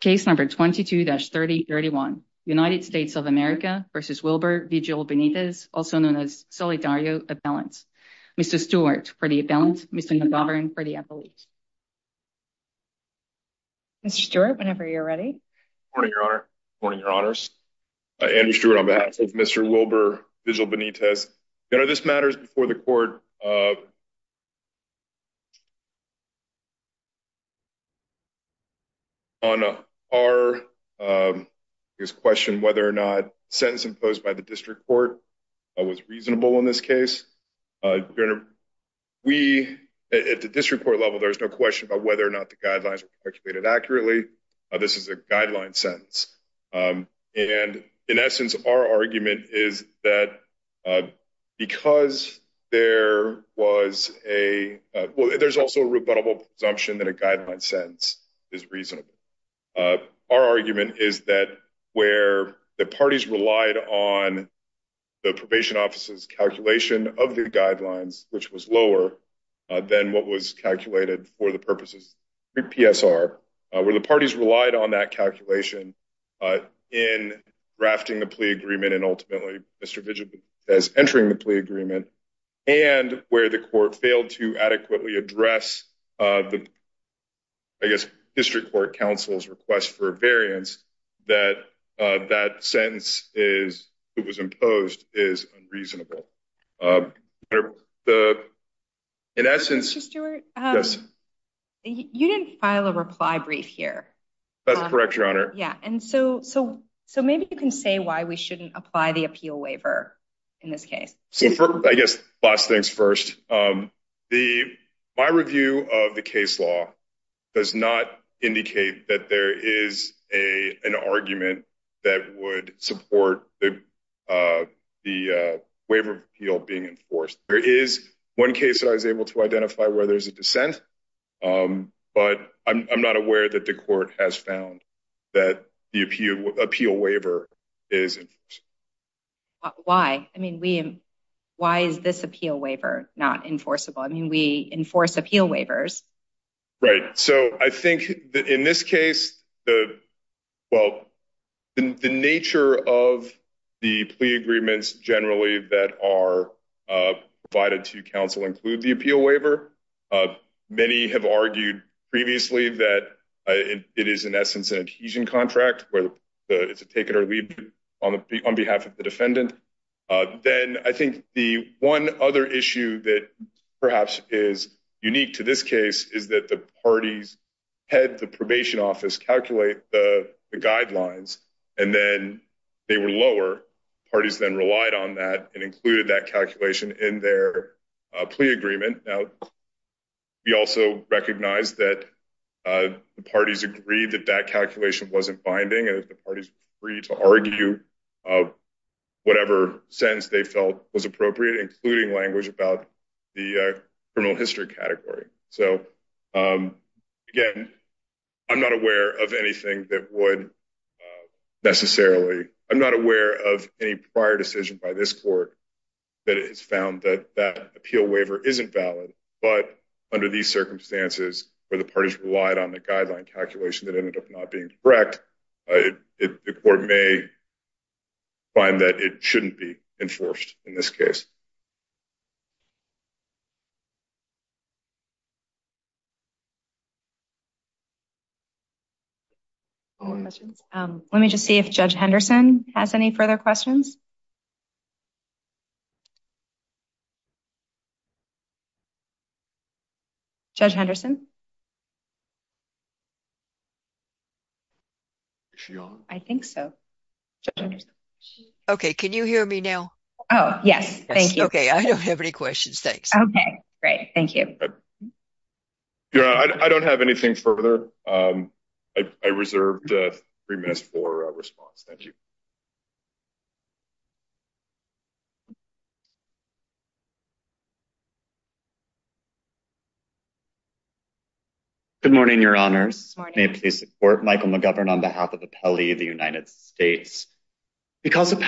Case number 22-3031 United States of America v. Wilber Vigil-Benitez, also known as Solidario Appellant. Mr. Stewart for the appellant, Mr. Nadavaran for the appellate. Mr. Stewart, whenever you're ready. Good morning, Your Honor. Good morning, Your Honors. Andrew Stewart on behalf of Mr. Wilber Vigil-Benitez. Your Honor, this matters before the court. On our question whether or not sentence imposed by the district court was reasonable in this case. We, at the district court level, there's no question about whether or not the guidelines were calculated accurately. This is a guideline sentence. And in essence, our argument is that because there was a, well, there's also a rebuttable presumption that a guideline sentence is reasonable. Our argument is that where the parties relied on the probation office's calculation of the guidelines, which was lower than what was calculated for the purposes of PSR, where the parties relied on that calculation in drafting the plea agreement. And ultimately, Mr. Vigil-Benitez entering the plea agreement and where the court failed to adequately address the, I guess, district court counsel's request for a variance, that that sentence is, it was imposed, is unreasonable. In essence, Mr. Stewart, you didn't file a reply brief here. That's correct, Your Honor. Yeah. And so maybe you can say why we shouldn't apply the appeal waiver in this case. So I guess last things first. My review of the case law does not indicate that there is an argument that would support the waiver of appeal being enforced. There is one case I was able to identify where there's a dissent, but I'm not aware that the why. I mean, why is this appeal waiver not enforceable? I mean, we enforce appeal waivers. Right. So I think that in this case, the, well, the nature of the plea agreements generally that are provided to counsel include the appeal waiver. Many have argued previously that it is in essence an adhesion contract where it's a take it or leave it on behalf of the defendant. Then I think the one other issue that perhaps is unique to this case is that the parties had the probation office calculate the guidelines and then they were lower. Parties then relied on that and included that calculation in their plea agreement. Now, we also recognize that the parties agreed that that calculation wasn't binding and that the parties were free to argue whatever sense they felt was appropriate, including language about the criminal history category. So again, I'm not aware of anything that would necessarily, I'm not aware of any prior decision by this court that has found that that appeal waiver isn't valid. But under these circumstances where the parties relied on the guideline calculation that ended up not being correct, the court may find that it shouldn't be enforced in this case. One more question. Let me just see if Judge Henderson has any further questions. Judge Henderson? I think so. Okay. Can you hear me now? Oh, yes. Thank you. Okay. I don't have any questions. Thanks. Okay. Great. Thank you. I don't have anything further. I reserved three minutes for a response. Thank you. Good morning, Your Honors. May I please support Michael McGovern on behalf of Appellee of the District Court? If the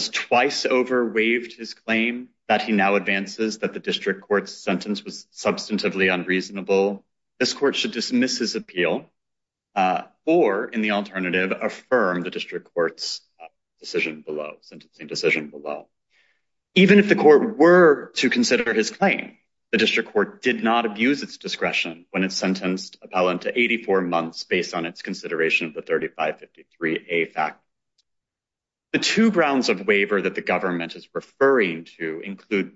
District Court has waived his claim that he now advances that the District Court's sentence was substantively unreasonable, this court should dismiss his appeal or, in the alternative, affirm the District Court's decision below, sentencing decision below. Even if the court were to consider his claim, the District Court did not abuse its discretion when it included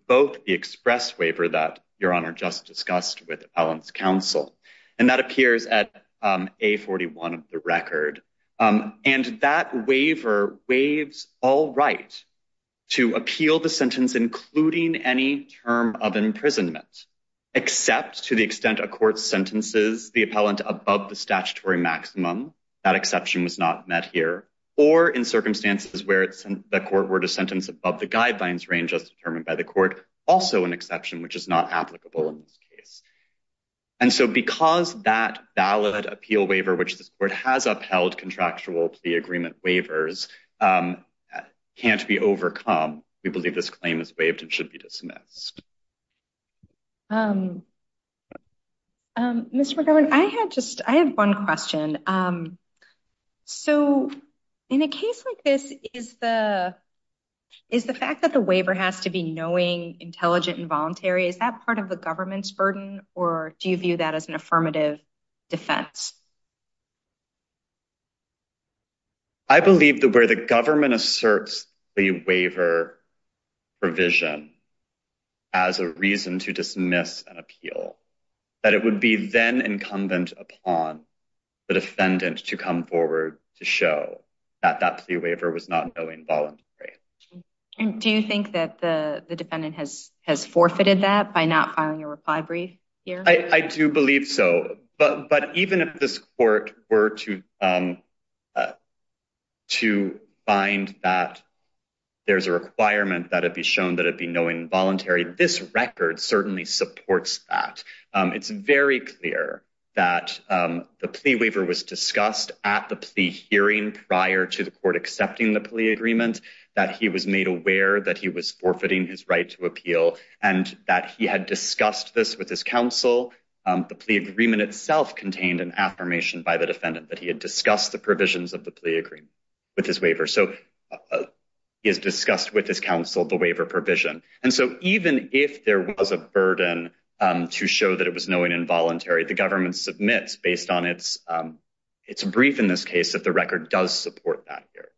both the express waiver that Your Honor just discussed with Appellant's counsel, and that appears at A41 of the record. And that waiver waives all right to appeal the sentence, including any term of imprisonment, except to the extent a court sentences the appellant above the statutory maximum. That exception was not met here. Or, in circumstances where the court were sentenced above the guidelines range as determined by the court, also an exception which is not applicable in this case. And so, because that valid appeal waiver, which this court has upheld contractual plea agreement waivers, can't be overcome, we believe this claim is waived and should be dismissed. Mr. McGovern, I had just, I have one question. So, in a case like this, is the fact that the waiver has to be knowing, intelligent, and voluntary, is that part of the government's burden, or do you view that as an affirmative defense? I believe that where the government asserts the waiver provision as a reason to dismiss an appeal, that it would be then incumbent upon the defendant to come forward to show that that plea waiver was not knowing, voluntary. Do you think that the defendant has forfeited that by not filing a reply brief here? I do believe so, but even if this court were to find that there's a requirement that it be shown that it be knowing, voluntary, this record certainly supports that. It's very clear that the plea waiver was discussed at the plea hearing prior to the court accepting the plea agreement, that he was made aware that he was forfeiting his right to appeal, and that he had discussed this with his counsel. The plea agreement itself contained an affirmation by the defendant that he had discussed the provisions of the plea agreement with his waiver. So, he has discussed with his counsel the waiver provision. And so, even if there was a the government submits based on its brief in this case, if the record does support that here.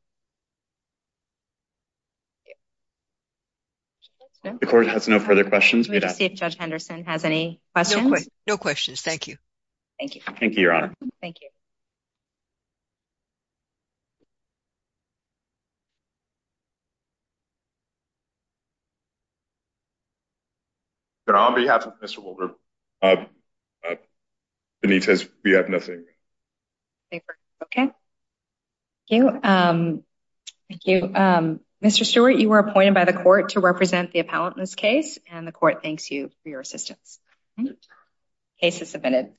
The court has no further questions. We'd like to see if Judge Henderson has any questions. No questions. Thank you. Thank you. Thank you, Your Honor. Thank you. Your Honor, on behalf of Mr. Wilber, the need says we have nothing. Okay. Thank you. Mr. Stewart, you were appointed by the court to represent the appellant in this case, and the court thanks you for your assistance. Case is submitted.